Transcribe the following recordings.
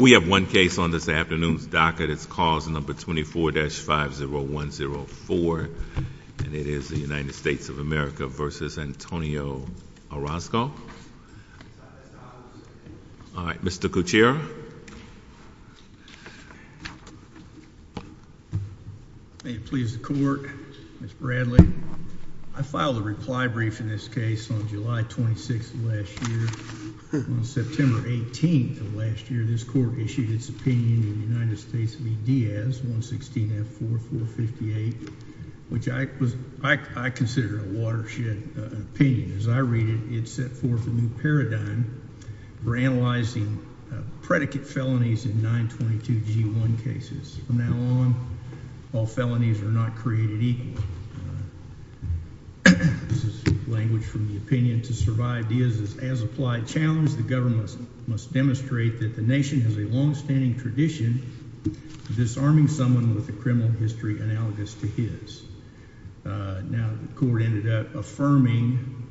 We have one case on this afternoon's docket. It's cause number 24-50104 and it is the United States of America v. Antonio Orozco. All right, Mr. Gutierrez. May it please the court, Mr. Bradley. I filed a reply brief in this case on July 26th of last year. On September 18th of last year, this court issued its opinion in the United States v. Diaz, 116F4458, which I consider a watershed opinion. As I read it, it set forth a new paradigm for analyzing predicate felonies in 922G1 cases. From now on, all felonies are not created equal. This is language from the opinion. To survive Diaz's as-applied challenge, the government must demonstrate that the nation has a longstanding tradition of disarming someone with a criminal history analogous to his. Now, the court ended up affirming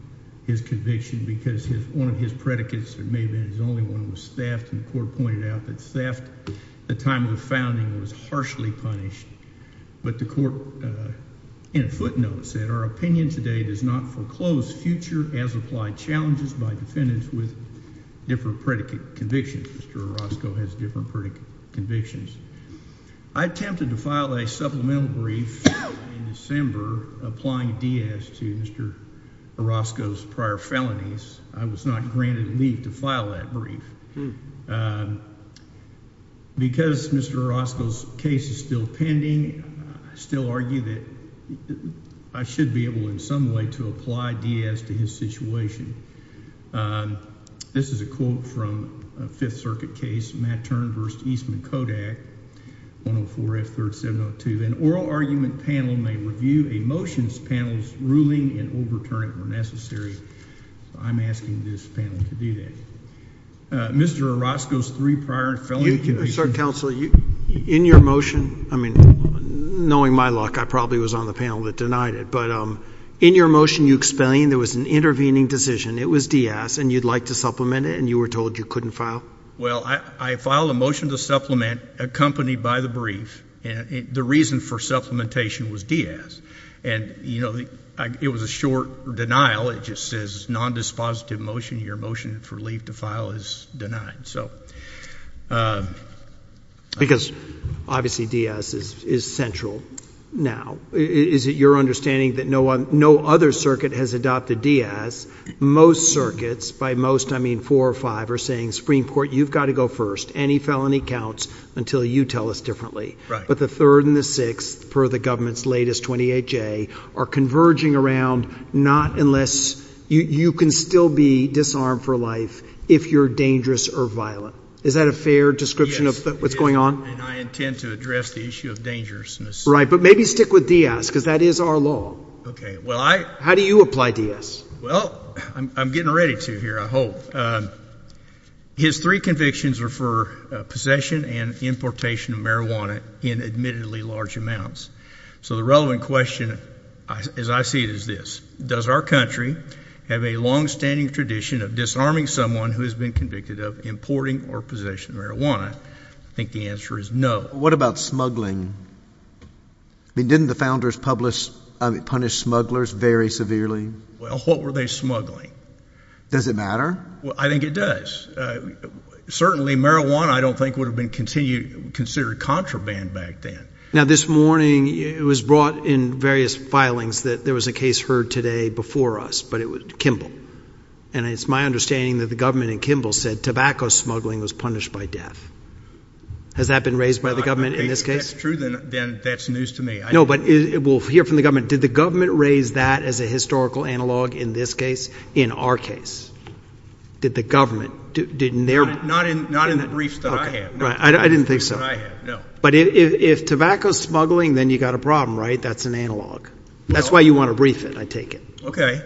his conviction because one of his predicates, it may have been his only one, was theft. And the court pointed out that theft at the time of the founding was harshly punished. But the court, in a footnote, said our opinion today does not foreclose future as-applied challenges by defendants with different predicate convictions. Mr. Orozco has different predicate convictions. I attempted to file a supplemental brief in December applying Diaz to Mr. Orozco's prior felonies. I was not granted leave to file that brief. Because Mr. Orozco's case is still pending, I still argue that I should be able in some way to apply Diaz to his situation. This is a quote from a Fifth Circuit case, Matt Turn v. Eastman Kodak, 104F3702. An oral argument panel may review a motion's panel's ruling and overturn it where necessary. I'm asking this panel to do that. Mr. Orozco's three prior felony convictions. Sir, counsel, in your motion, I mean, knowing my luck, I probably was on the panel that denied it. But in your motion you explained there was an intervening decision. It was Diaz, and you'd like to supplement it, and you were told you couldn't file? Well, I filed a motion to supplement accompanied by the brief. The reason for supplementation was Diaz. And, you know, it was a short denial. It just says nondispositive motion. Your motion for leave to file is denied. Because, obviously, Diaz is central now. Is it your understanding that no other circuit has adopted Diaz? Most circuits, by most I mean four or five, are saying, Supreme Court, you've got to go first. Any felony counts until you tell us differently. But the third and the sixth, per the government's latest 28-J, are converging around not unless you can still be disarmed for life if you're dangerous or violent. Is that a fair description of what's going on? And I intend to address the issue of dangerousness. Right. But maybe stick with Diaz, because that is our law. Okay. How do you apply Diaz? Well, I'm getting ready to here, I hope. His three convictions are for possession and importation of marijuana in admittedly large amounts. So the relevant question, as I see it, is this. Does our country have a longstanding tradition of disarming someone who has been convicted of importing or possession of marijuana? I think the answer is no. What about smuggling? Didn't the founders punish smugglers very severely? Well, what were they smuggling? Does it matter? I think it does. Certainly marijuana, I don't think, would have been considered contraband back then. Now, this morning it was brought in various filings that there was a case heard today before us, but it was Kimball. And it's my understanding that the government in Kimball said tobacco smuggling was punished by death. Has that been raised by the government in this case? If that's true, then that's news to me. No, but we'll hear from the government. Did the government raise that as a historical analog in this case, in our case? Did the government? Not in the briefs that I have. I didn't think so. But if tobacco smuggling, then you've got a problem, right? That's an analog. That's why you want to brief it, I take it. Okay.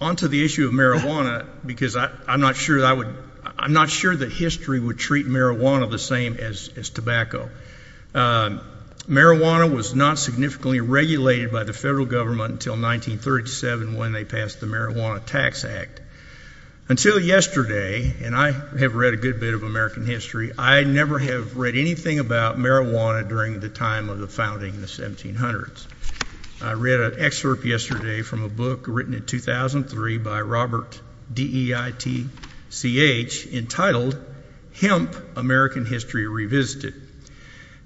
On to the issue of marijuana, because I'm not sure that history would treat marijuana the same as tobacco. Marijuana was not significantly regulated by the federal government until 1937 when they passed the Marijuana Tax Act. Until yesterday, and I have read a good bit of American history, I never have read anything about marijuana during the time of the founding in the 1700s. I read an excerpt yesterday from a book written in 2003 by Robert Deitch entitled Hemp, American History Revisited.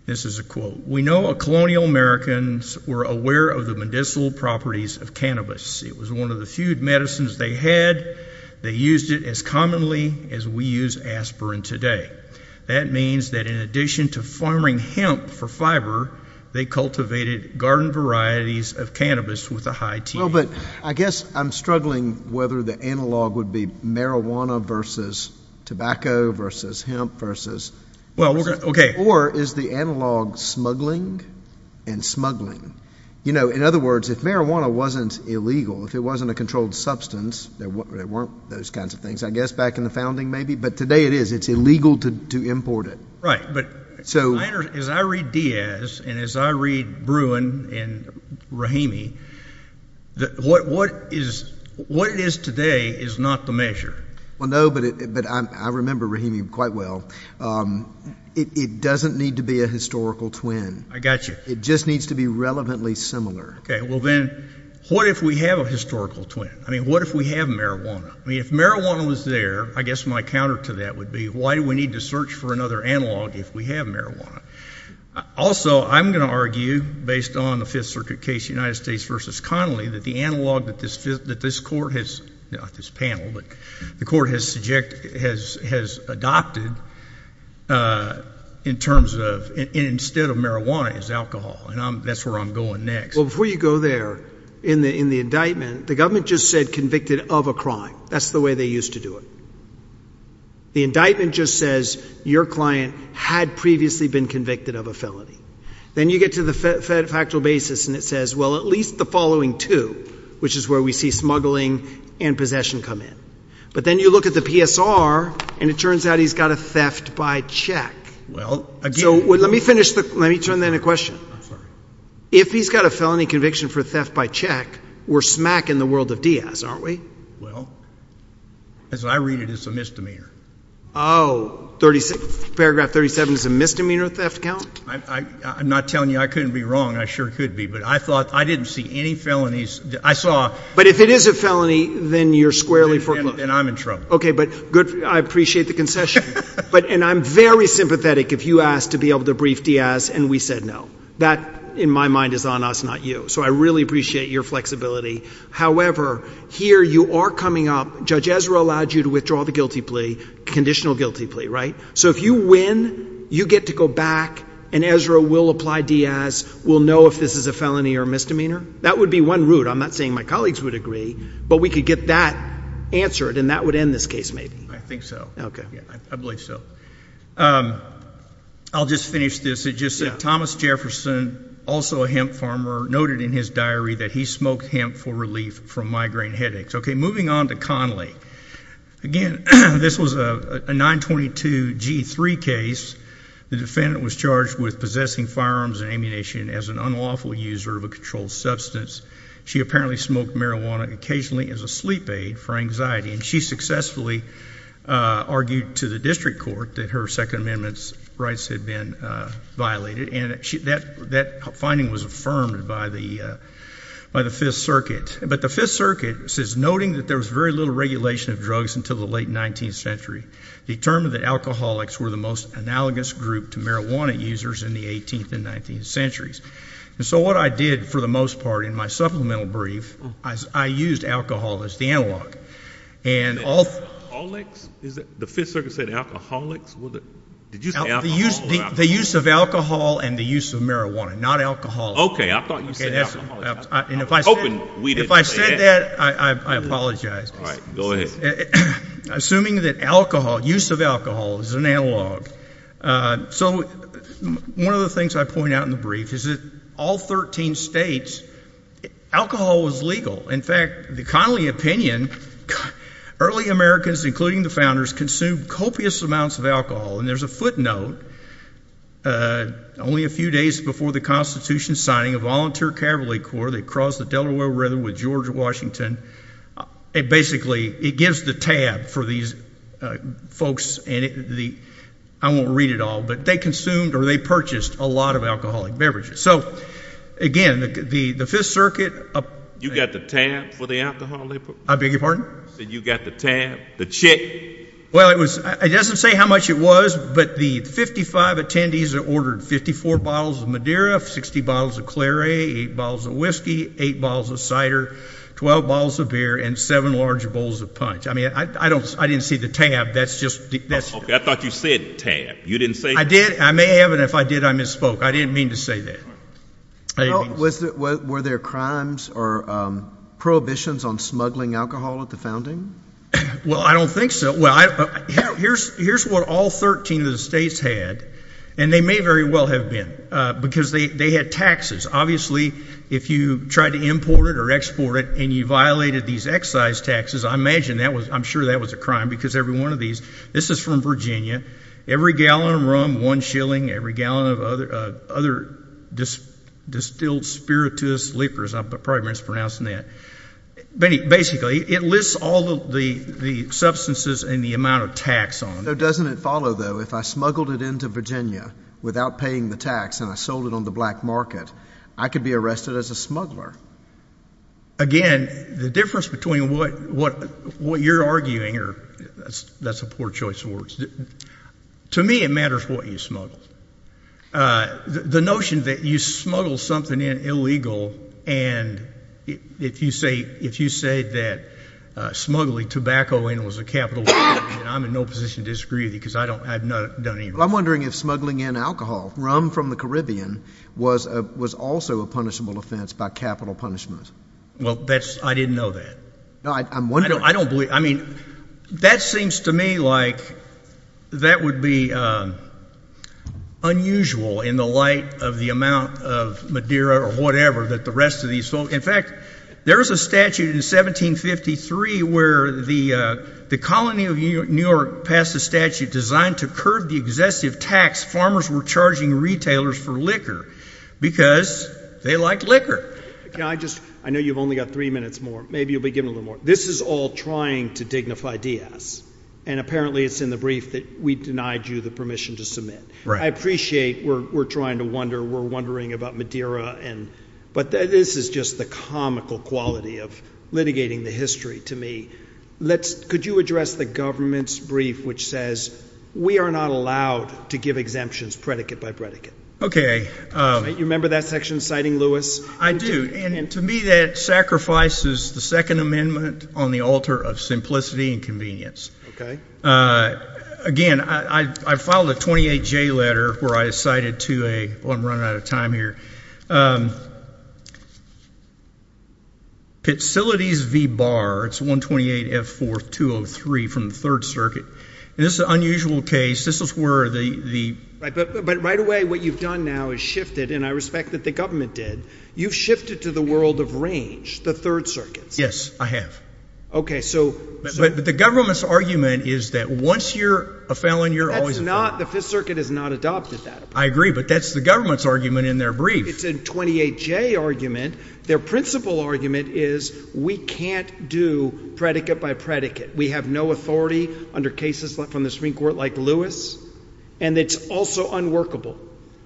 This is a quote. We know our colonial Americans were aware of the medicinal properties of cannabis. It was one of the few medicines they had. They used it as commonly as we use aspirin today. That means that in addition to farming hemp for fiber, they cultivated garden varieties of cannabis with a high T. Well, but I guess I'm struggling whether the analog would be marijuana versus tobacco versus hemp versus— Well, we're going to—okay. Or is the analog smuggling and smuggling? You know, in other words, if marijuana wasn't illegal, if it wasn't a controlled substance, there weren't those kinds of things, I guess, back in the founding maybe. But today it is. It's illegal to import it. Right, but as I read Diaz and as I read Bruin and Rahimi, what it is today is not the measure. Well, no, but I remember Rahimi quite well. It doesn't need to be a historical twin. I got you. It just needs to be relevantly similar. Okay. Well, then what if we have a historical twin? I mean, what if we have marijuana? I mean, if marijuana was there, I guess my counter to that would be why do we need to search for another analog if we have marijuana? Also, I'm going to argue based on the Fifth Circuit case, United States v. Connolly, that the analog that this court has—not this panel, but the court has adopted in terms of instead of marijuana is alcohol, and that's where I'm going next. Well, before you go there, in the indictment, the government just said convicted of a crime. That's the way they used to do it. The indictment just says your client had previously been convicted of a felony. Then you get to the factual basis, and it says, well, at least the following two, which is where we see smuggling and possession come in. But then you look at the PSR, and it turns out he's got a theft by check. Well, again— So let me finish the—let me turn then to question. I'm sorry. If he's got a felony conviction for theft by check, we're smack in the world of Diaz, aren't we? Well, as I read it, it's a misdemeanor. Oh, paragraph 37 is a misdemeanor theft count? I'm not telling you I couldn't be wrong. I sure could be, but I thought—I didn't see any felonies. I saw— But if it is a felony, then you're squarely foreclosed. Then I'm in trouble. Okay, but good—I appreciate the concession. And I'm very sympathetic if you asked to be able to brief Diaz and we said no. That, in my mind, is on us, not you. So I really appreciate your flexibility. However, here you are coming up. Judge Ezra allowed you to withdraw the guilty plea, conditional guilty plea, right? So if you win, you get to go back, and Ezra will apply Diaz. We'll know if this is a felony or a misdemeanor. That would be one route. I'm not saying my colleagues would agree, but we could get that answered, and that would end this case maybe. I think so. I believe so. I'll just finish this. It just said Thomas Jefferson, also a hemp farmer, noted in his diary that he smoked hemp for relief from migraine headaches. Okay, moving on to Conley. Again, this was a 922G3 case. The defendant was charged with possessing firearms and ammunition as an unlawful user of a controlled substance. She apparently smoked marijuana occasionally as a sleep aid for anxiety. And she successfully argued to the district court that her Second Amendment rights had been violated, and that finding was affirmed by the Fifth Circuit. But the Fifth Circuit says, noting that there was very little regulation of drugs until the late 19th century, determined that alcoholics were the most analogous group to marijuana users in the 18th and 19th centuries. And so what I did, for the most part, in my supplemental brief, I used alcohol as the analog. Alcoholics? The Fifth Circuit said alcoholics? Did you say alcohol? The use of alcohol and the use of marijuana, not alcohol. Okay, I thought you said alcoholics. I was hoping we didn't say that. If I said that, I apologize. All right, go ahead. Assuming that alcohol, use of alcohol is an analog. So one of the things I point out in the brief is that all 13 states, alcohol was legal. In fact, the Connolly opinion, early Americans, including the founders, consumed copious amounts of alcohol. And there's a footnote, only a few days before the Constitution signing, a volunteer cavalry corps, they crossed the Delaware River with George Washington. Basically, it gives the tab for these folks. I won't read it all, but they consumed or they purchased a lot of alcoholic beverages. So, again, the Fifth Circuit. You got the tab for the alcohol they put? I beg your pardon? You got the tab? The check? Well, it doesn't say how much it was, but the 55 attendees ordered 54 bottles of Madeira, 60 bottles of Clare, 8 bottles of whiskey, 8 bottles of cider, 12 bottles of beer, and 7 large bowls of punch. I mean, I didn't see the tab. I thought you said tab. I did. I may have, and if I did, I misspoke. I didn't mean to say that. Were there crimes or prohibitions on smuggling alcohol at the founding? Well, I don't think so. Here's what all 13 of the states had, and they may very well have been, because they had taxes. Obviously, if you tried to import it or export it and you violated these excise taxes, I'm sure that was a crime because every one of these. This is from Virginia. Every gallon of rum, one shilling. Every gallon of other distilled spiritus liquors. I'm probably mispronouncing that. Basically, it lists all of the substances and the amount of tax on them. So doesn't it follow, though, if I smuggled it into Virginia without paying the tax and I sold it on the black market, I could be arrested as a smuggler? Again, the difference between what you're arguing, or that's a poor choice of words. To me, it matters what you smuggled. The notion that you smuggled something in illegal, and if you say that smuggling tobacco in was a capital offense, then I'm in no position to disagree with you because I've done it. I'm wondering if smuggling in alcohol, rum from the Caribbean, was also a punishable offense by capital punishment. Well, I didn't know that. I'm wondering. I don't believe – I mean, that seems to me like that would be unusual in the light of the amount of Madeira or whatever that the rest of these folks – in fact, there's a statute in 1753 where the colony of New York passed a statute designed to curb the excessive tax farmers were charging retailers for liquor because they liked liquor. Can I just – I know you've only got three minutes more. Maybe you'll be given a little more. This is all trying to dignify Diaz, and apparently it's in the brief that we denied you the permission to submit. Right. I appreciate we're trying to wonder. We're wondering about Madeira, but this is just the comical quality of litigating the history to me. Could you address the government's brief which says we are not allowed to give exemptions predicate by predicate? Okay. You remember that section citing Lewis? I do. And to me that sacrifices the Second Amendment on the altar of simplicity and convenience. Okay. Again, I filed a 28J letter where I cited to a – well, I'm running out of time here. Pitsilities v. Barr, it's 128F4203 from the Third Circuit. This is an unusual case. This is where the – But right away what you've done now is shifted, and I respect that the government did. You've shifted to the world of range, the Third Circuit. Yes, I have. So – But the government's argument is that once you're a felon, you're always a felon. That's not – the Fifth Circuit has not adopted that. I agree, but that's the government's argument in their brief. It's a 28J argument. Their principal argument is we can't do predicate by predicate. We have no authority under cases from the Supreme Court like Lewis, and it's also unworkable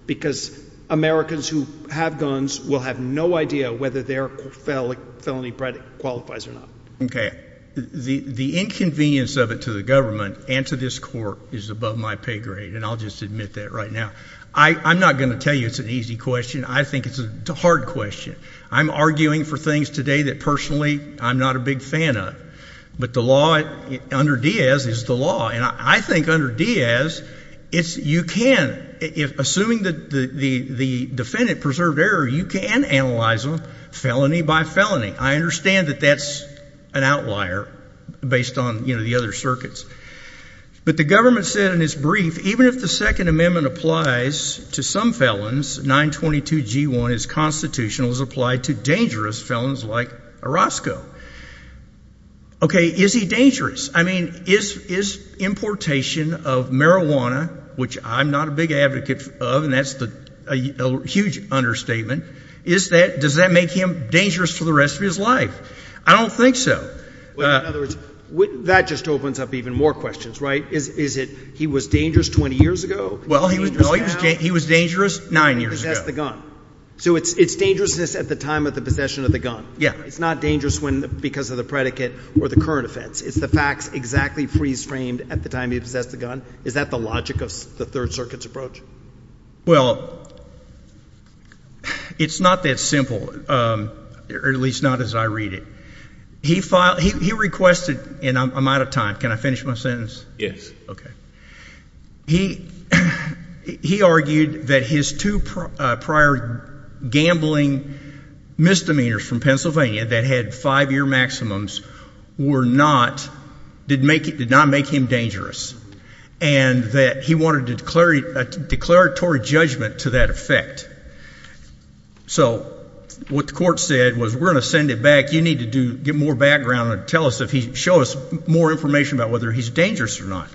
because Americans who have guns will have no idea whether their felony predicate qualifies or not. Okay. The inconvenience of it to the government and to this court is above my pay grade, and I'll just admit that right now. I'm not going to tell you it's an easy question. I think it's a hard question. I'm arguing for things today that personally I'm not a big fan of, but the law under Diaz is the law. And I think under Diaz, you can – assuming the defendant preserved error, you can analyze them felony by felony. I understand that that's an outlier based on the other circuits. But the government said in its brief even if the Second Amendment applies to some felons, 922G1 is constitutional. It's applied to dangerous felons like Orozco. Okay, is he dangerous? I mean, is importation of marijuana, which I'm not a big advocate of, and that's a huge understatement, does that make him dangerous for the rest of his life? I don't think so. In other words, that just opens up even more questions, right? Is it he was dangerous 20 years ago? Well, he was dangerous nine years ago. Possessed the gun. So it's dangerousness at the time of the possession of the gun. Yeah. It's not dangerous because of the predicate or the current offense. It's the facts exactly pre-framed at the time he possessed the gun. Is that the logic of the Third Circuit's approach? Well, it's not that simple, or at least not as I read it. He requested – and I'm out of time. Can I finish my sentence? Yes. Okay. He argued that his two prior gambling misdemeanors from Pennsylvania that had five-year maximums did not make him dangerous and that he wanted a declaratory judgment to that effect. So what the court said was we're going to send it back. You need to get more background and show us more information about whether he's dangerous or not.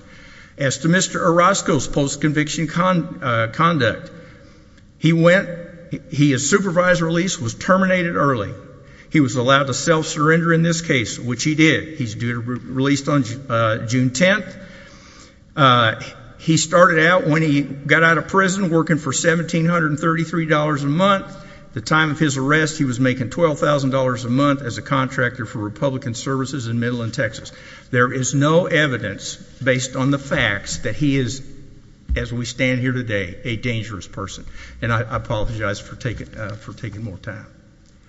As to Mr. Orozco's post-conviction conduct, he went – his supervised release was terminated early. He was allowed to self-surrender in this case, which he did. He's due to be released on June 10th. He started out when he got out of prison working for $1,733 a month. At the time of his arrest, he was making $12,000 a month as a contractor for Republican Services in Midland, Texas. There is no evidence, based on the facts, that he is, as we stand here today, a dangerous person. And I apologize for taking more time.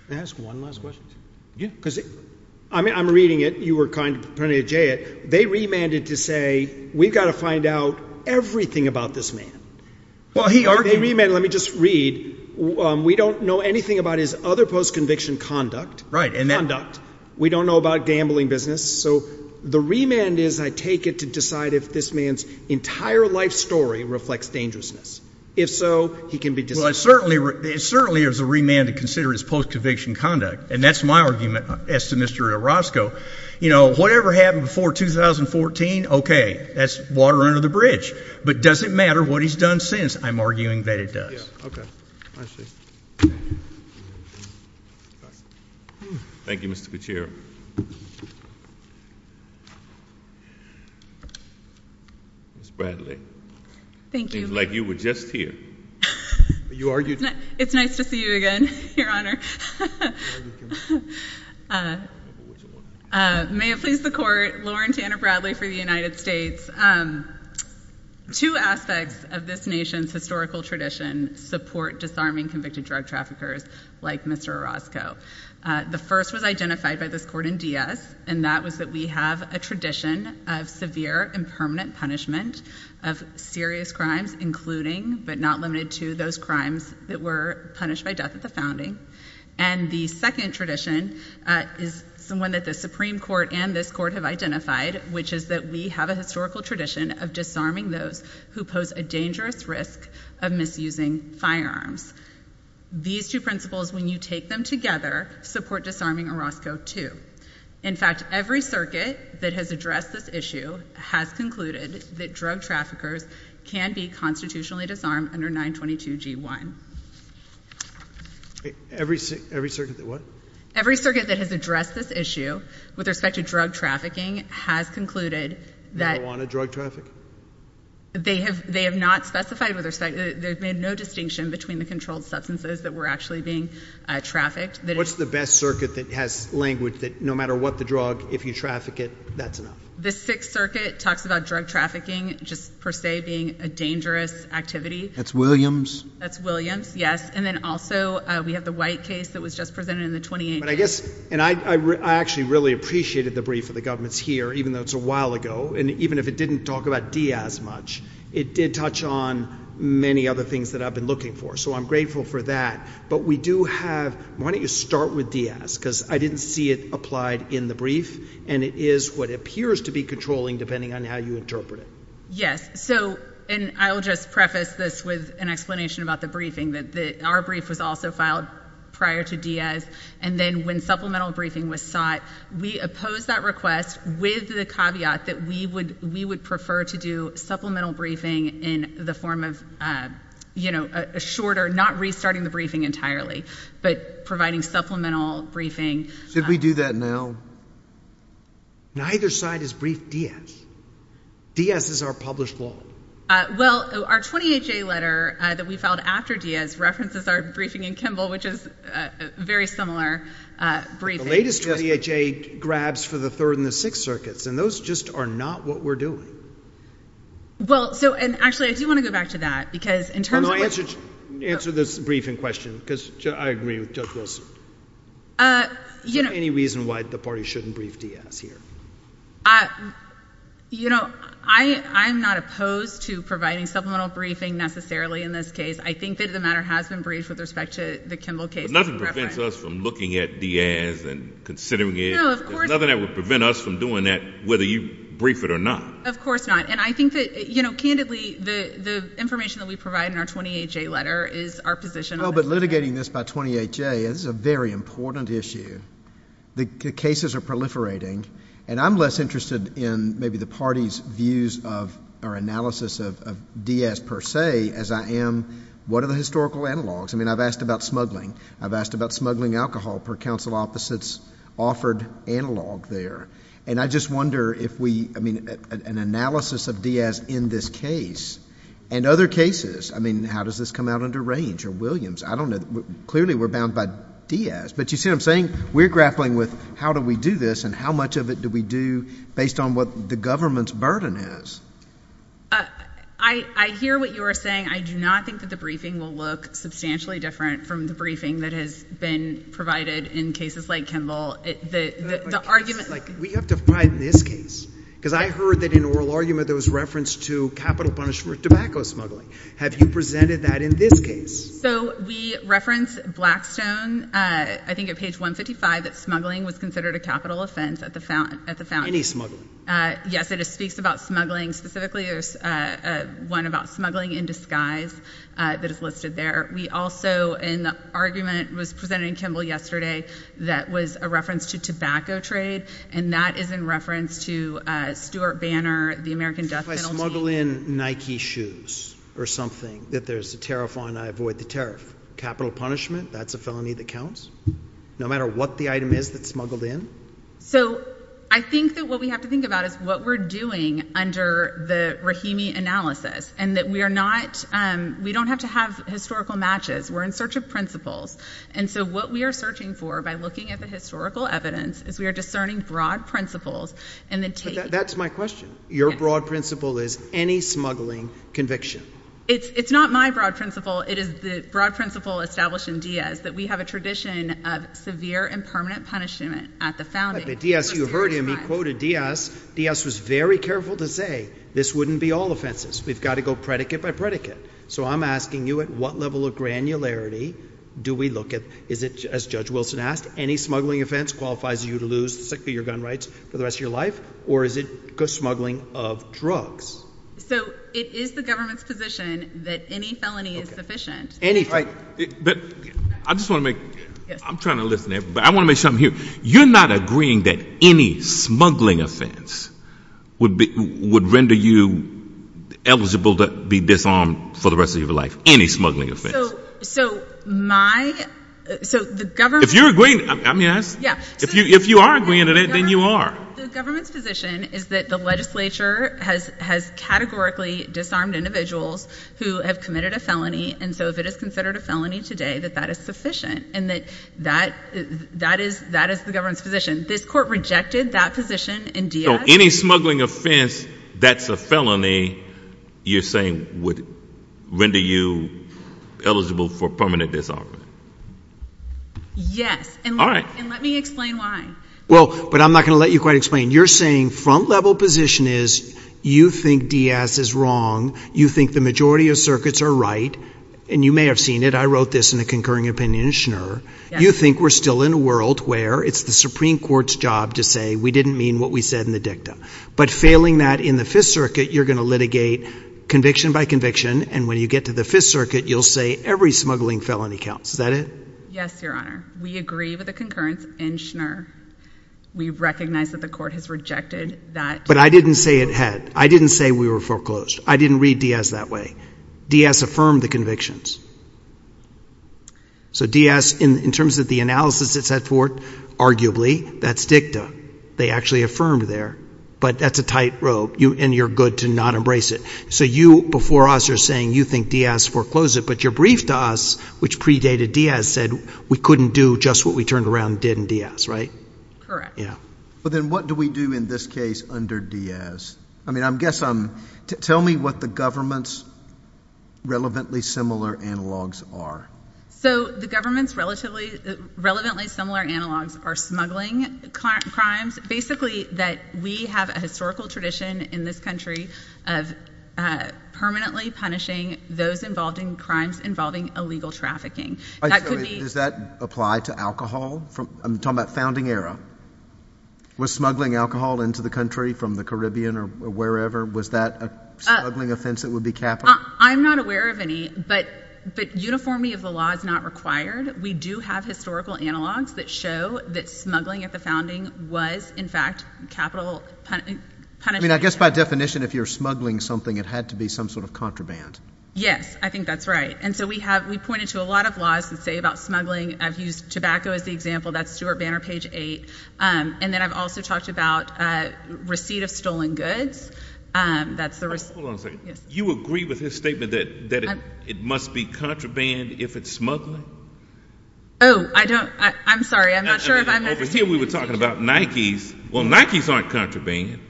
Can I ask one last question? Yeah. Because I'm reading it. You were kind enough to preempt me to say it. They remanded to say we've got to find out everything about this man. Well, he argued – They remanded – let me just read. We don't know anything about his other post-conviction conduct. Right. Conduct. We don't know about gambling business. So the remand is I take it to decide if this man's entire life story reflects dangerousness. If so, he can be dismissed. Well, it certainly is a remand to consider his post-conviction conduct, and that's my argument as to Mr. Orozco. You know, whatever happened before 2014, okay, that's water under the bridge. But does it matter what he's done since? I'm arguing that it does. Yeah, okay. I see. Thank you, Mr. Gutierrez. Ms. Bradley. Thank you. It seems like you were just here. You argued – It's nice to see you again, Your Honor. May it please the Court, Lauren Tanner Bradley for the United States. Two aspects of this nation's historical tradition support disarming convicted drug traffickers like Mr. Orozco. The first was identified by this Court in Diaz, and that was that we have a tradition of severe and permanent punishment of serious crimes, including but not limited to those crimes that were punished by death at the founding. And the second tradition is one that the Supreme Court and this Court have identified, which is that we have a historical tradition of disarming those who pose a dangerous risk of misusing firearms. These two principles, when you take them together, support disarming Orozco, too. In fact, every circuit that has addressed this issue has concluded that drug traffickers can be constitutionally disarmed under 922G1. Every circuit that what? Every circuit that has addressed this issue with respect to drug trafficking has concluded that – Marijuana drug traffic? They have not specified with respect – they've made no distinction between the controlled substances that were actually being trafficked. What's the best circuit that has language that no matter what the drug, if you traffic it, that's enough? The Sixth Circuit talks about drug trafficking just per se being a dangerous activity. That's Williams? That's Williams, yes. And then also we have the White case that was just presented in the 2018 – But I guess – and I actually really appreciated the brief that the government's here, even though it's a while ago. And even if it didn't talk about Diaz much, it did touch on many other things that I've been looking for. So I'm grateful for that. But we do have – why don't you start with Diaz? Because I didn't see it applied in the brief, and it is what appears to be controlling, depending on how you interpret it. Yes. So – and I'll just preface this with an explanation about the briefing. Our brief was also filed prior to Diaz, and then when supplemental briefing was sought, we opposed that request with the caveat that we would prefer to do supplemental briefing in the form of a shorter – not restarting the briefing entirely, but providing supplemental briefing. Should we do that now? Neither side has briefed Diaz. Diaz is our published law. Well, our 28-J letter that we filed after Diaz references our briefing in Kimball, which is a very similar briefing. The latest 28-J grabs for the Third and the Sixth Circuits, and those just are not what we're doing. Well, so – and actually, I do want to go back to that because in terms of what – Answer this briefing question because I agree with Judge Wilson. Is there any reason why the party shouldn't brief Diaz here? You know, I'm not opposed to providing supplemental briefing necessarily in this case. I think that the matter has been briefed with respect to the Kimball case. Nothing prevents us from looking at Diaz and considering it. No, of course not. There's nothing that would prevent us from doing that whether you brief it or not. Of course not. And I think that, you know, candidly, the information that we provide in our 28-J letter is our position. Well, but litigating this by 28-J is a very important issue. The cases are proliferating, and I'm less interested in maybe the party's views of our analysis of Diaz per se as I am what are the historical analogs. I mean, I've asked about smuggling. I've asked about smuggling alcohol per counsel opposites offered analog there. And I just wonder if we – I mean, an analysis of Diaz in this case and other cases. I mean, how does this come out under Range or Williams? I don't know. Clearly, we're bound by Diaz. But you see what I'm saying? We're grappling with how do we do this and how much of it do we do based on what the government's burden is. I hear what you are saying. I do not think that the briefing will look substantially different from the briefing that has been provided in cases like Kimball. The argument – We have to fight this case because I heard that in an oral argument there was reference to capital punishment tobacco smuggling. Have you presented that in this case? So we reference Blackstone, I think at page 155, that smuggling was considered a capital offense at the – Any smuggling. Yes, it speaks about smuggling. Specifically, there's one about smuggling in disguise that is listed there. We also – an argument was presented in Kimball yesterday that was a reference to tobacco trade, and that is in reference to Stuart Banner, the American death penalty. If I smuggle in Nike shoes or something that there's a tariff on, I avoid the tariff. Capital punishment, that's a felony that counts? No matter what the item is that's smuggled in? So I think that what we have to think about is what we're doing under the Rahimi analysis and that we are not – we don't have to have historical matches. We're in search of principles, and so what we are searching for by looking at the historical evidence is we are discerning broad principles and then taking – That's my question. Your broad principle is any smuggling conviction. It's not my broad principle. It is the broad principle established in Diaz that we have a tradition of severe and permanent punishment at the founding. But Diaz – you heard him. He quoted Diaz. Diaz was very careful to say this wouldn't be all offenses. We've got to go predicate by predicate. So I'm asking you at what level of granularity do we look at – is it, as Judge Wilson asked, any smuggling offense qualifies you to lose your gun rights for the rest of your life, or is it smuggling of drugs? So it is the government's position that any felony is sufficient. But I just want to make – I'm trying to listen here, but I want to make something clear. You're not agreeing that any smuggling offense would render you eligible to be disarmed for the rest of your life, any smuggling offense? So my – so the government – If you're agreeing – I mean, if you are agreeing to that, then you are. The government's position is that the legislature has categorically disarmed individuals who have committed a felony, and so if it is considered a felony today, that that is sufficient, and that that is the government's position. This court rejected that position in Diaz. So any smuggling offense that's a felony, you're saying, would render you eligible for permanent disarmament? Yes. All right. And let me explain why. Well, but I'm not going to let you quite explain. You're saying front-level position is you think Diaz is wrong. You think the majority of circuits are right, and you may have seen it. I wrote this in a concurring opinion in Schnur. You think we're still in a world where it's the Supreme Court's job to say we didn't mean what we said in the dicta. But failing that in the Fifth Circuit, you're going to litigate conviction by conviction, and when you get to the Fifth Circuit, you'll say every smuggling felony counts. Is that it? Yes, Your Honor. We agree with the concurrence in Schnur. We recognize that the court has rejected that. But I didn't say it had. I didn't say we were foreclosed. I didn't read Diaz that way. Diaz affirmed the convictions. So Diaz, in terms of the analysis it set forth, arguably, that's dicta. They actually affirmed there. But that's a tight rope, and you're good to not embrace it. So you, before us, are saying you think Diaz foreclosed it, but your brief to us, which predated Diaz, said we couldn't do just what we turned around and did in Diaz, right? Correct. Yeah. But then what do we do in this case under Diaz? I mean, I guess I'm – tell me what the government's relevantly similar analogs are. So the government's relatively similar analogs are smuggling crimes. Basically, that we have a historical tradition in this country of permanently punishing those involved in crimes involving illegal trafficking. Does that apply to alcohol? I'm talking about founding era. Was smuggling alcohol into the country from the Caribbean or wherever, was that a smuggling offense that would be capital? I'm not aware of any, but uniformity of the law is not required. We do have historical analogs that show that smuggling at the founding was, in fact, capital punishment. I mean, I guess by definition, if you're smuggling something, it had to be some sort of contraband. Yes. I think that's right. And so we have – we pointed to a lot of laws that say about smuggling. I've used tobacco as the example. That's Stewart Banner, page 8. And then I've also talked about receipt of stolen goods. That's the – Hold on a second. Yes. Did you just make a statement that it must be contraband if it's smuggling? Oh, I don't – I'm sorry. I'm not sure if I'm – Over here we were talking about Nikes. Well, Nikes aren't contraband.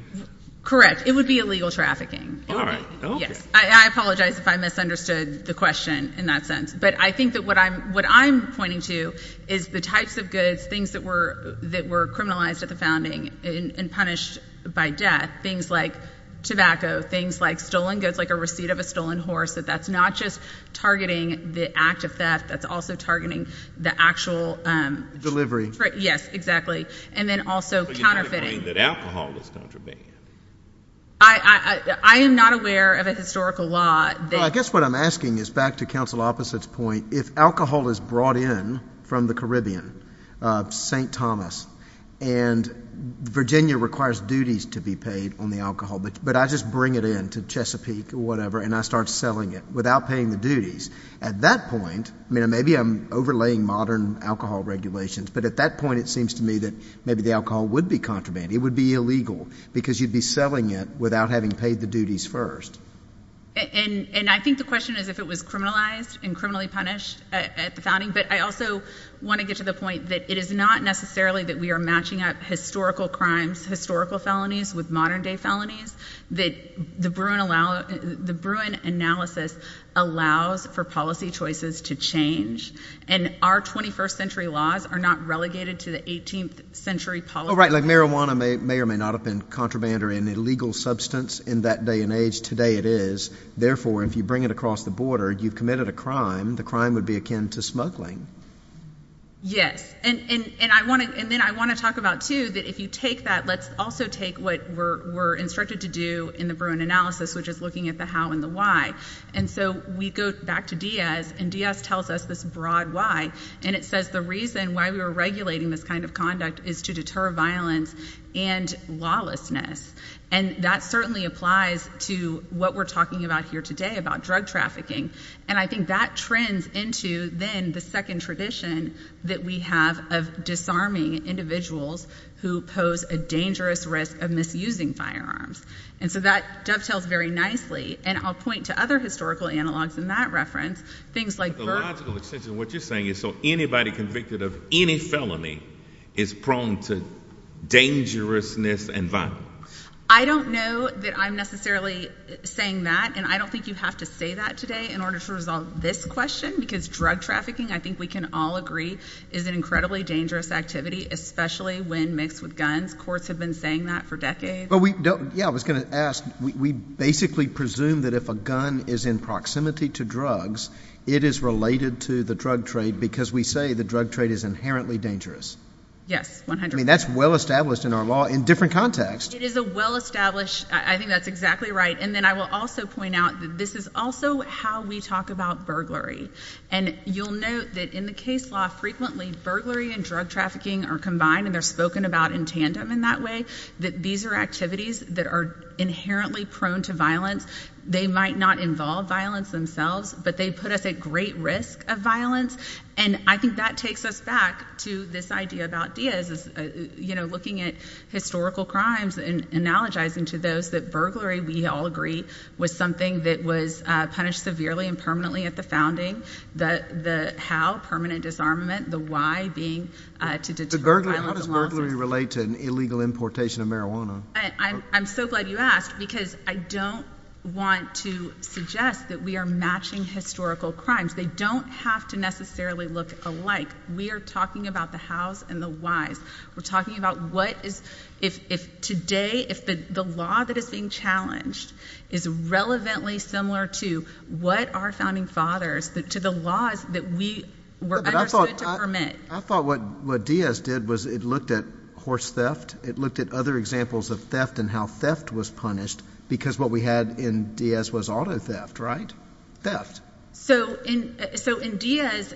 Correct. It would be illegal trafficking. All right. Okay. Yes. I apologize if I misunderstood the question in that sense. But I think that what I'm pointing to is the types of goods, things that were criminalized at the founding and punished by death, things like tobacco, things like stolen goods like a receipt of a stolen horse, that that's not just targeting the act of theft. That's also targeting the actual – Yes, exactly. And then also counterfeiting. But you're not saying that alcohol is contraband. I am not aware of a historical law that – Well, I guess what I'm asking is back to Counsel Opposite's point. If alcohol is brought in from the Caribbean, St. Thomas, and Virginia requires duties to be paid on the alcohol, but I just bring it in to Chesapeake or whatever and I start selling it without paying the duties, at that point – I mean, maybe I'm overlaying modern alcohol regulations, but at that point it seems to me that maybe the alcohol would be contraband. It would be illegal because you'd be selling it without having paid the duties first. And I think the question is if it was criminalized and criminally punished at the founding. But I also want to get to the point that it is not necessarily that we are matching up historical crimes, historical felonies with modern-day felonies, that the Bruin analysis allows for policy choices to change. And our 21st century laws are not relegated to the 18th century policy – Well, right, like marijuana may or may not have been contraband or an illegal substance in that day and age. Today it is. Therefore, if you bring it across the border, you've committed a crime. The crime would be akin to smuggling. Yes. And then I want to talk about, too, that if you take that, let's also take what we're instructed to do in the Bruin analysis, which is looking at the how and the why. And so we go back to Diaz, and Diaz tells us this broad why. And it says the reason why we were regulating this kind of conduct is to deter violence and lawlessness. And that certainly applies to what we're talking about here today, about drug trafficking. And I think that trends into, then, the second tradition that we have of disarming individuals who pose a dangerous risk of misusing firearms. And so that dovetails very nicely. And I'll point to other historical analogs in that reference, things like – So, by biological extension, what you're saying is so anybody convicted of any felony is prone to dangerousness and violence. I don't know that I'm necessarily saying that, and I don't think you have to say that today in order to resolve this question, because drug trafficking, I think we can all agree, is an incredibly dangerous activity, especially when mixed with guns. Courts have been saying that for decades. Yeah, I was going to ask. We basically presume that if a gun is in proximity to drugs, it is related to the drug trade because we say the drug trade is inherently dangerous. Yes, 100%. I mean, that's well established in our law in different contexts. It is a well-established – I think that's exactly right. And then I will also point out that this is also how we talk about burglary. And you'll note that in the case law, frequently burglary and drug trafficking are combined, and they're spoken about in tandem in that way, that these are activities that are inherently prone to violence. They might not involve violence themselves, but they put us at great risk of violence. And I think that takes us back to this idea about Diaz, looking at historical crimes and analogizing to those that burglary, we all agree, was something that was punished severely and permanently at the founding, the how, permanent disarmament, the why being to deter violence. How does burglary relate to an illegal importation of marijuana? I'm so glad you asked because I don't want to suggest that we are matching historical crimes. They don't have to necessarily look alike. We are talking about the hows and the whys. We're talking about what is – if today, if the law that is being challenged is relevantly similar to what our founding fathers, to the laws that we were understood to permit. I thought what Diaz did was it looked at horse theft. It looked at other examples of theft and how theft was punished because what we had in Diaz was auto theft, right? So in Diaz,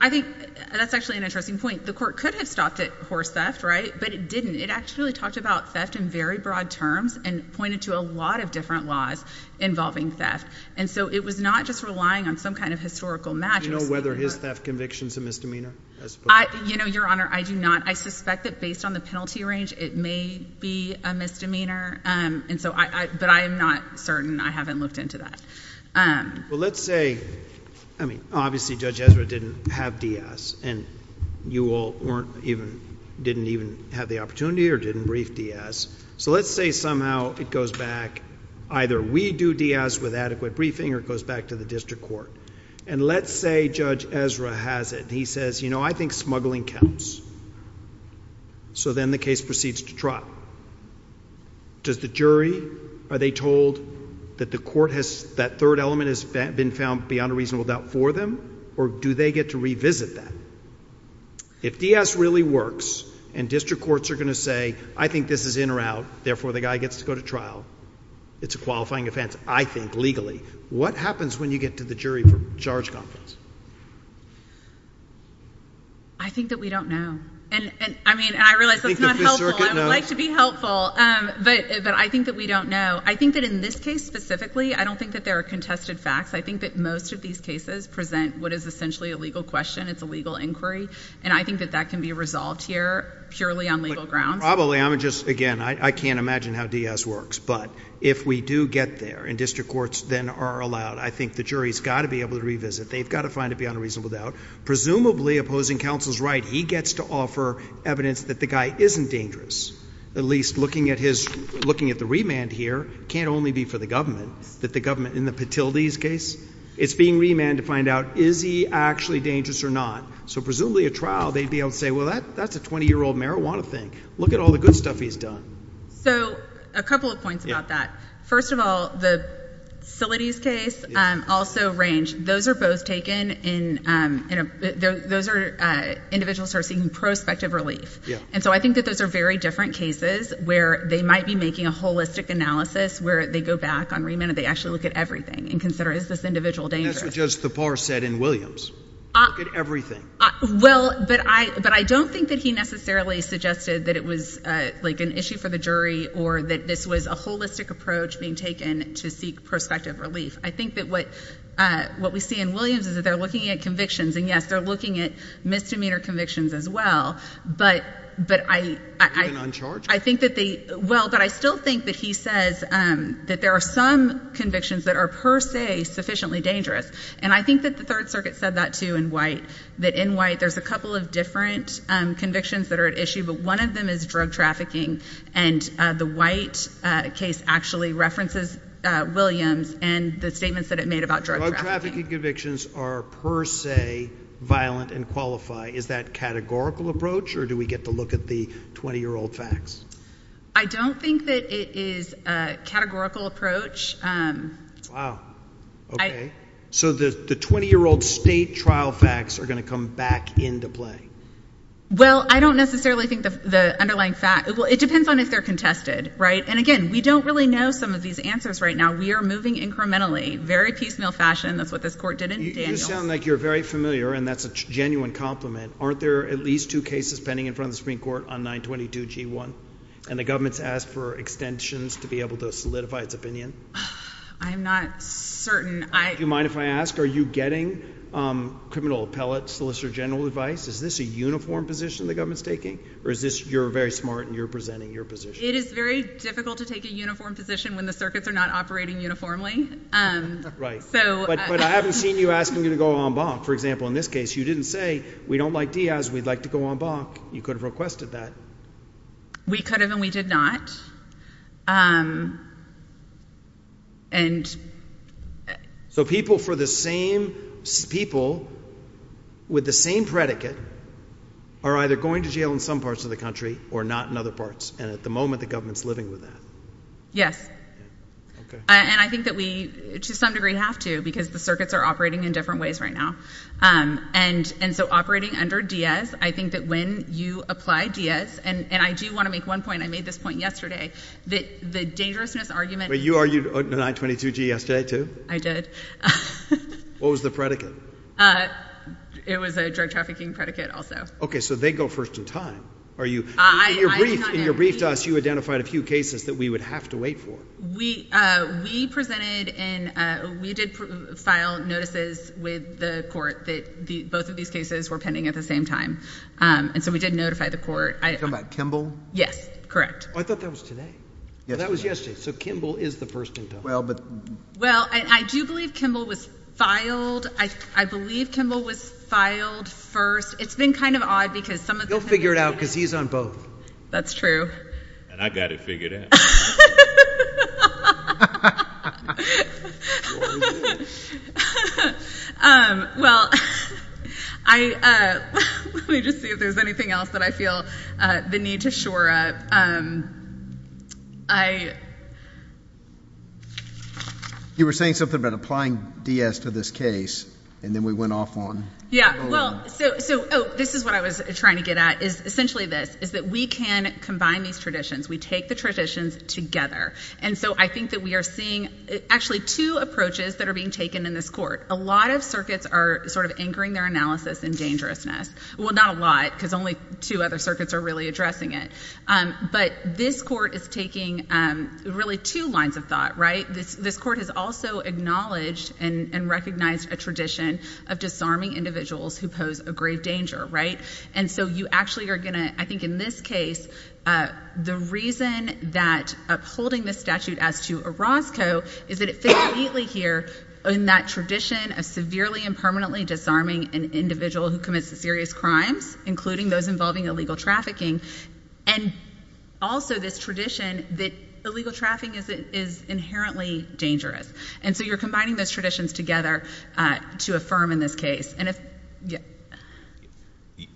I think that's actually an interesting point. The court could have stopped at horse theft, right? But it didn't. It actually talked about theft in very broad terms and pointed to a lot of different laws involving theft. And so it was not just relying on some kind of historical match. Do you know whether his theft conviction is a misdemeanor? Your Honor, I do not. I suspect that based on the penalty range, it may be a misdemeanor. But I am not certain. I haven't looked into that. Well, let's say – I mean, obviously Judge Ezra didn't have Diaz. And you all didn't even have the opportunity or didn't brief Diaz. So let's say somehow it goes back. Either we do Diaz with adequate briefing or it goes back to the district court. And let's say Judge Ezra has it. He says, you know, I think smuggling counts. So then the case proceeds to trial. Does the jury, are they told that the court has – that third element has been found beyond a reasonable doubt for them? Or do they get to revisit that? If Diaz really works and district courts are going to say, I think this is in or out. Therefore, the guy gets to go to trial. It's a qualifying offense, I think, legally. What happens when you get to the jury for charge confidence? I think that we don't know. And, I mean, I realize that's not helpful. I would like to be helpful. But I think that we don't know. I think that in this case specifically, I don't think that there are contested facts. I think that most of these cases present what is essentially a legal question. It's a legal inquiry. And I think that that can be resolved here purely on legal grounds. Probably. I'm just – again, I can't imagine how Diaz works. But if we do get there and district courts then are allowed, I think the jury's got to be able to revisit. They've got to find it beyond a reasonable doubt. Presumably, opposing counsel's right, he gets to offer evidence that the guy isn't dangerous. At least looking at his – looking at the remand here, can't only be for the government. That the government – in the Patilde's case, it's being remanded to find out is he actually dangerous or not. So, presumably, at trial, they'd be able to say, well, that's a 20-year-old marijuana thing. Look at all the good stuff he's done. So, a couple of points about that. First of all, the Sility's case also ranged – those are both taken in – those are individuals who are seeking prospective relief. And so I think that those are very different cases where they might be making a holistic analysis where they go back on remand and they actually look at everything and consider is this individual dangerous. And that's what Judge Thapar said in Williams. Look at everything. Well, but I don't think that he necessarily suggested that it was, like, an issue for the jury or that this was a holistic approach being taken to seek prospective relief. I think that what we see in Williams is that they're looking at convictions. And, yes, they're looking at misdemeanor convictions as well. But I think that they – well, but I still think that he says that there are some convictions that are per se sufficiently dangerous. And I think that the Third Circuit said that too in White, that in White there's a couple of different convictions that are at issue. But one of them is drug trafficking. And the White case actually references Williams and the statements that it made about drug trafficking. Drug trafficking convictions are per se violent and qualify. Is that categorical approach or do we get to look at the 20-year-old facts? I don't think that it is a categorical approach. Wow. Okay. So the 20-year-old state trial facts are going to come back into play. Well, I don't necessarily think the underlying fact – well, it depends on if they're contested, right? And, again, we don't really know some of these answers right now. We are moving incrementally, very piecemeal fashion. That's what this court did in Daniels. You sound like you're very familiar, and that's a genuine compliment. Aren't there at least two cases pending in front of the Supreme Court on 922g1? And the government's asked for extensions to be able to solidify its opinion. I'm not certain. Do you mind if I ask? Are you getting criminal appellate, solicitor general advice? Is this a uniform position the government's taking, or is this you're very smart and you're presenting your position? It is very difficult to take a uniform position when the circuits are not operating uniformly. Right. But I haven't seen you asking them to go en banc. For example, in this case, you didn't say, we don't like Diaz, we'd like to go en banc. You could have requested that. We could have, and we did not. So people for the same people with the same predicate are either going to jail in some parts of the country or not in other parts. And at the moment, the government's living with that. Yes. And I think that we, to some degree, have to because the circuits are operating in different ways right now. And so operating under Diaz, I think that when you apply Diaz, and I do want to make one point. And I made this point yesterday, that the dangerousness argument. You argued 922G yesterday too? I did. What was the predicate? It was a drug trafficking predicate also. Okay. So they go first in time. In your brief to us, you identified a few cases that we would have to wait for. We presented and we did file notices with the court that both of these cases were pending at the same time. And so we did notify the court. You're talking about Kimball? Yes. Oh, I thought that was today. That was yesterday. So Kimball is the first in time. Well, I do believe Kimball was filed. I believe Kimball was filed first. It's been kind of odd because some of the things we've done. You'll figure it out because he's on both. That's true. And I've got it figured out. Well, let me just see if there's anything else that I feel the need to shore up. You were saying something about applying DS to this case and then we went off on. Yeah. Well, so this is what I was trying to get at is essentially this, is that we can combine these traditions. We take the traditions together. And so I think that we are seeing actually two approaches that are being taken in this court. A lot of circuits are sort of anchoring their analysis in dangerousness. Well, not a lot because only two other circuits are really addressing it. But this court is taking really two lines of thought, right? This court has also acknowledged and recognized a tradition of disarming individuals who pose a grave danger, right? And so you actually are going to, I think in this case, the reason that upholding this statute as to Orozco is that it fits neatly here in that tradition of severely and permanently disarming an individual who commits serious crimes, including those involving illegal trafficking, and also this tradition that illegal trafficking is inherently dangerous. And so you're combining those traditions together to affirm in this case.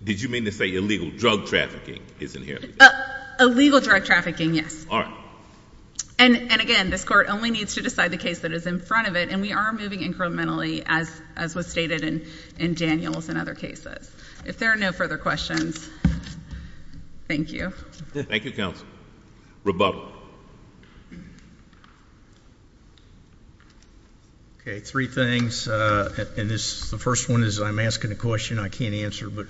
Did you mean to say illegal drug trafficking is inherently dangerous? Illegal drug trafficking, yes. All right. And again, this court only needs to decide the case that is in front of it. And we are moving incrementally, as was stated in Daniels and other cases. If there are no further questions, thank you. Thank you, counsel. Rebuttal. Okay, three things. The first one is I'm asking a question I can't answer. But,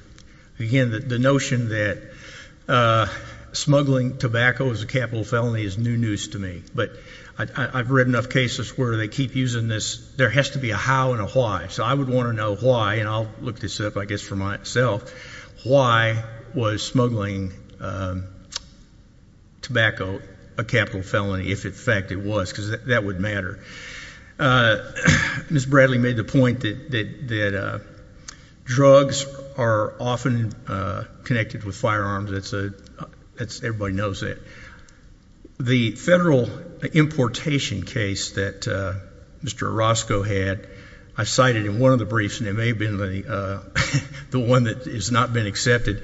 again, the notion that smuggling tobacco is a capital felony is new news to me. But I've read enough cases where they keep using this. There has to be a how and a why. So I would want to know why, and I'll look this up, I guess, for myself. Why was smuggling tobacco a capital felony if, in fact, it was? Because that would matter. Ms. Bradley made the point that drugs are often connected with firearms. Everybody knows that. The federal importation case that Mr. Orozco had, I cited in one of the briefs, and it may have been the one that has not been accepted,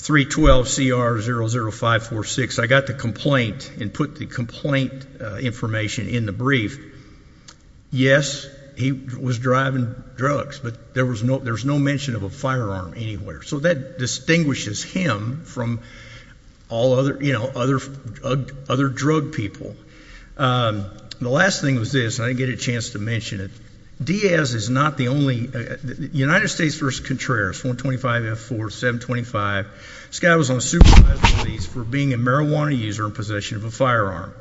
312CR00546. I got the complaint and put the complaint information in the brief. Yes, he was driving drugs, but there was no mention of a firearm anywhere. So that distinguishes him from all other drug people. The last thing was this, and I didn't get a chance to mention it. Diaz is not the only one. United States v. Contreras, 425F4725. This guy was on supervised release for being a marijuana user in possession of a firearm.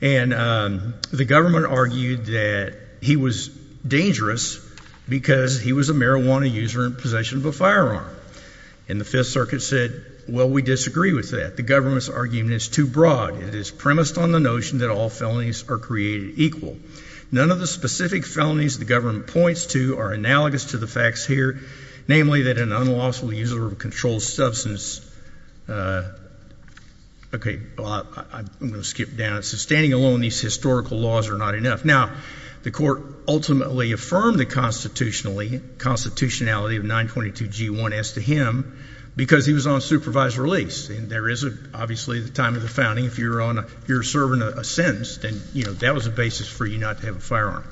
And the government argued that he was dangerous because he was a marijuana user in possession of a firearm. And the Fifth Circuit said, well, we disagree with that. The government's argument is too broad. It is premised on the notion that all felonies are created equal. None of the specific felonies the government points to are analogous to the facts here, namely that an unlawful user of a controlled substance. Okay, I'm going to skip down. So standing alone, these historical laws are not enough. Now, the court ultimately affirmed the constitutionality of 922G1 as to him because he was on supervised release. And there is obviously the time of the founding. If you're serving a sentence, then that was a basis for you not to have a firearm.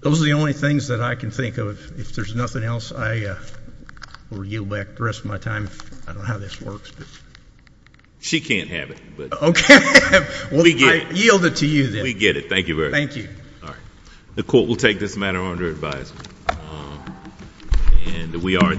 Those are the only things that I can think of. If there's nothing else, I will yield back the rest of my time. I don't know how this works. She can't have it. Okay. I yield it to you then. We get it. Thank you very much. Thank you. All right. The court will take this matter under advisement. And we are adjourned.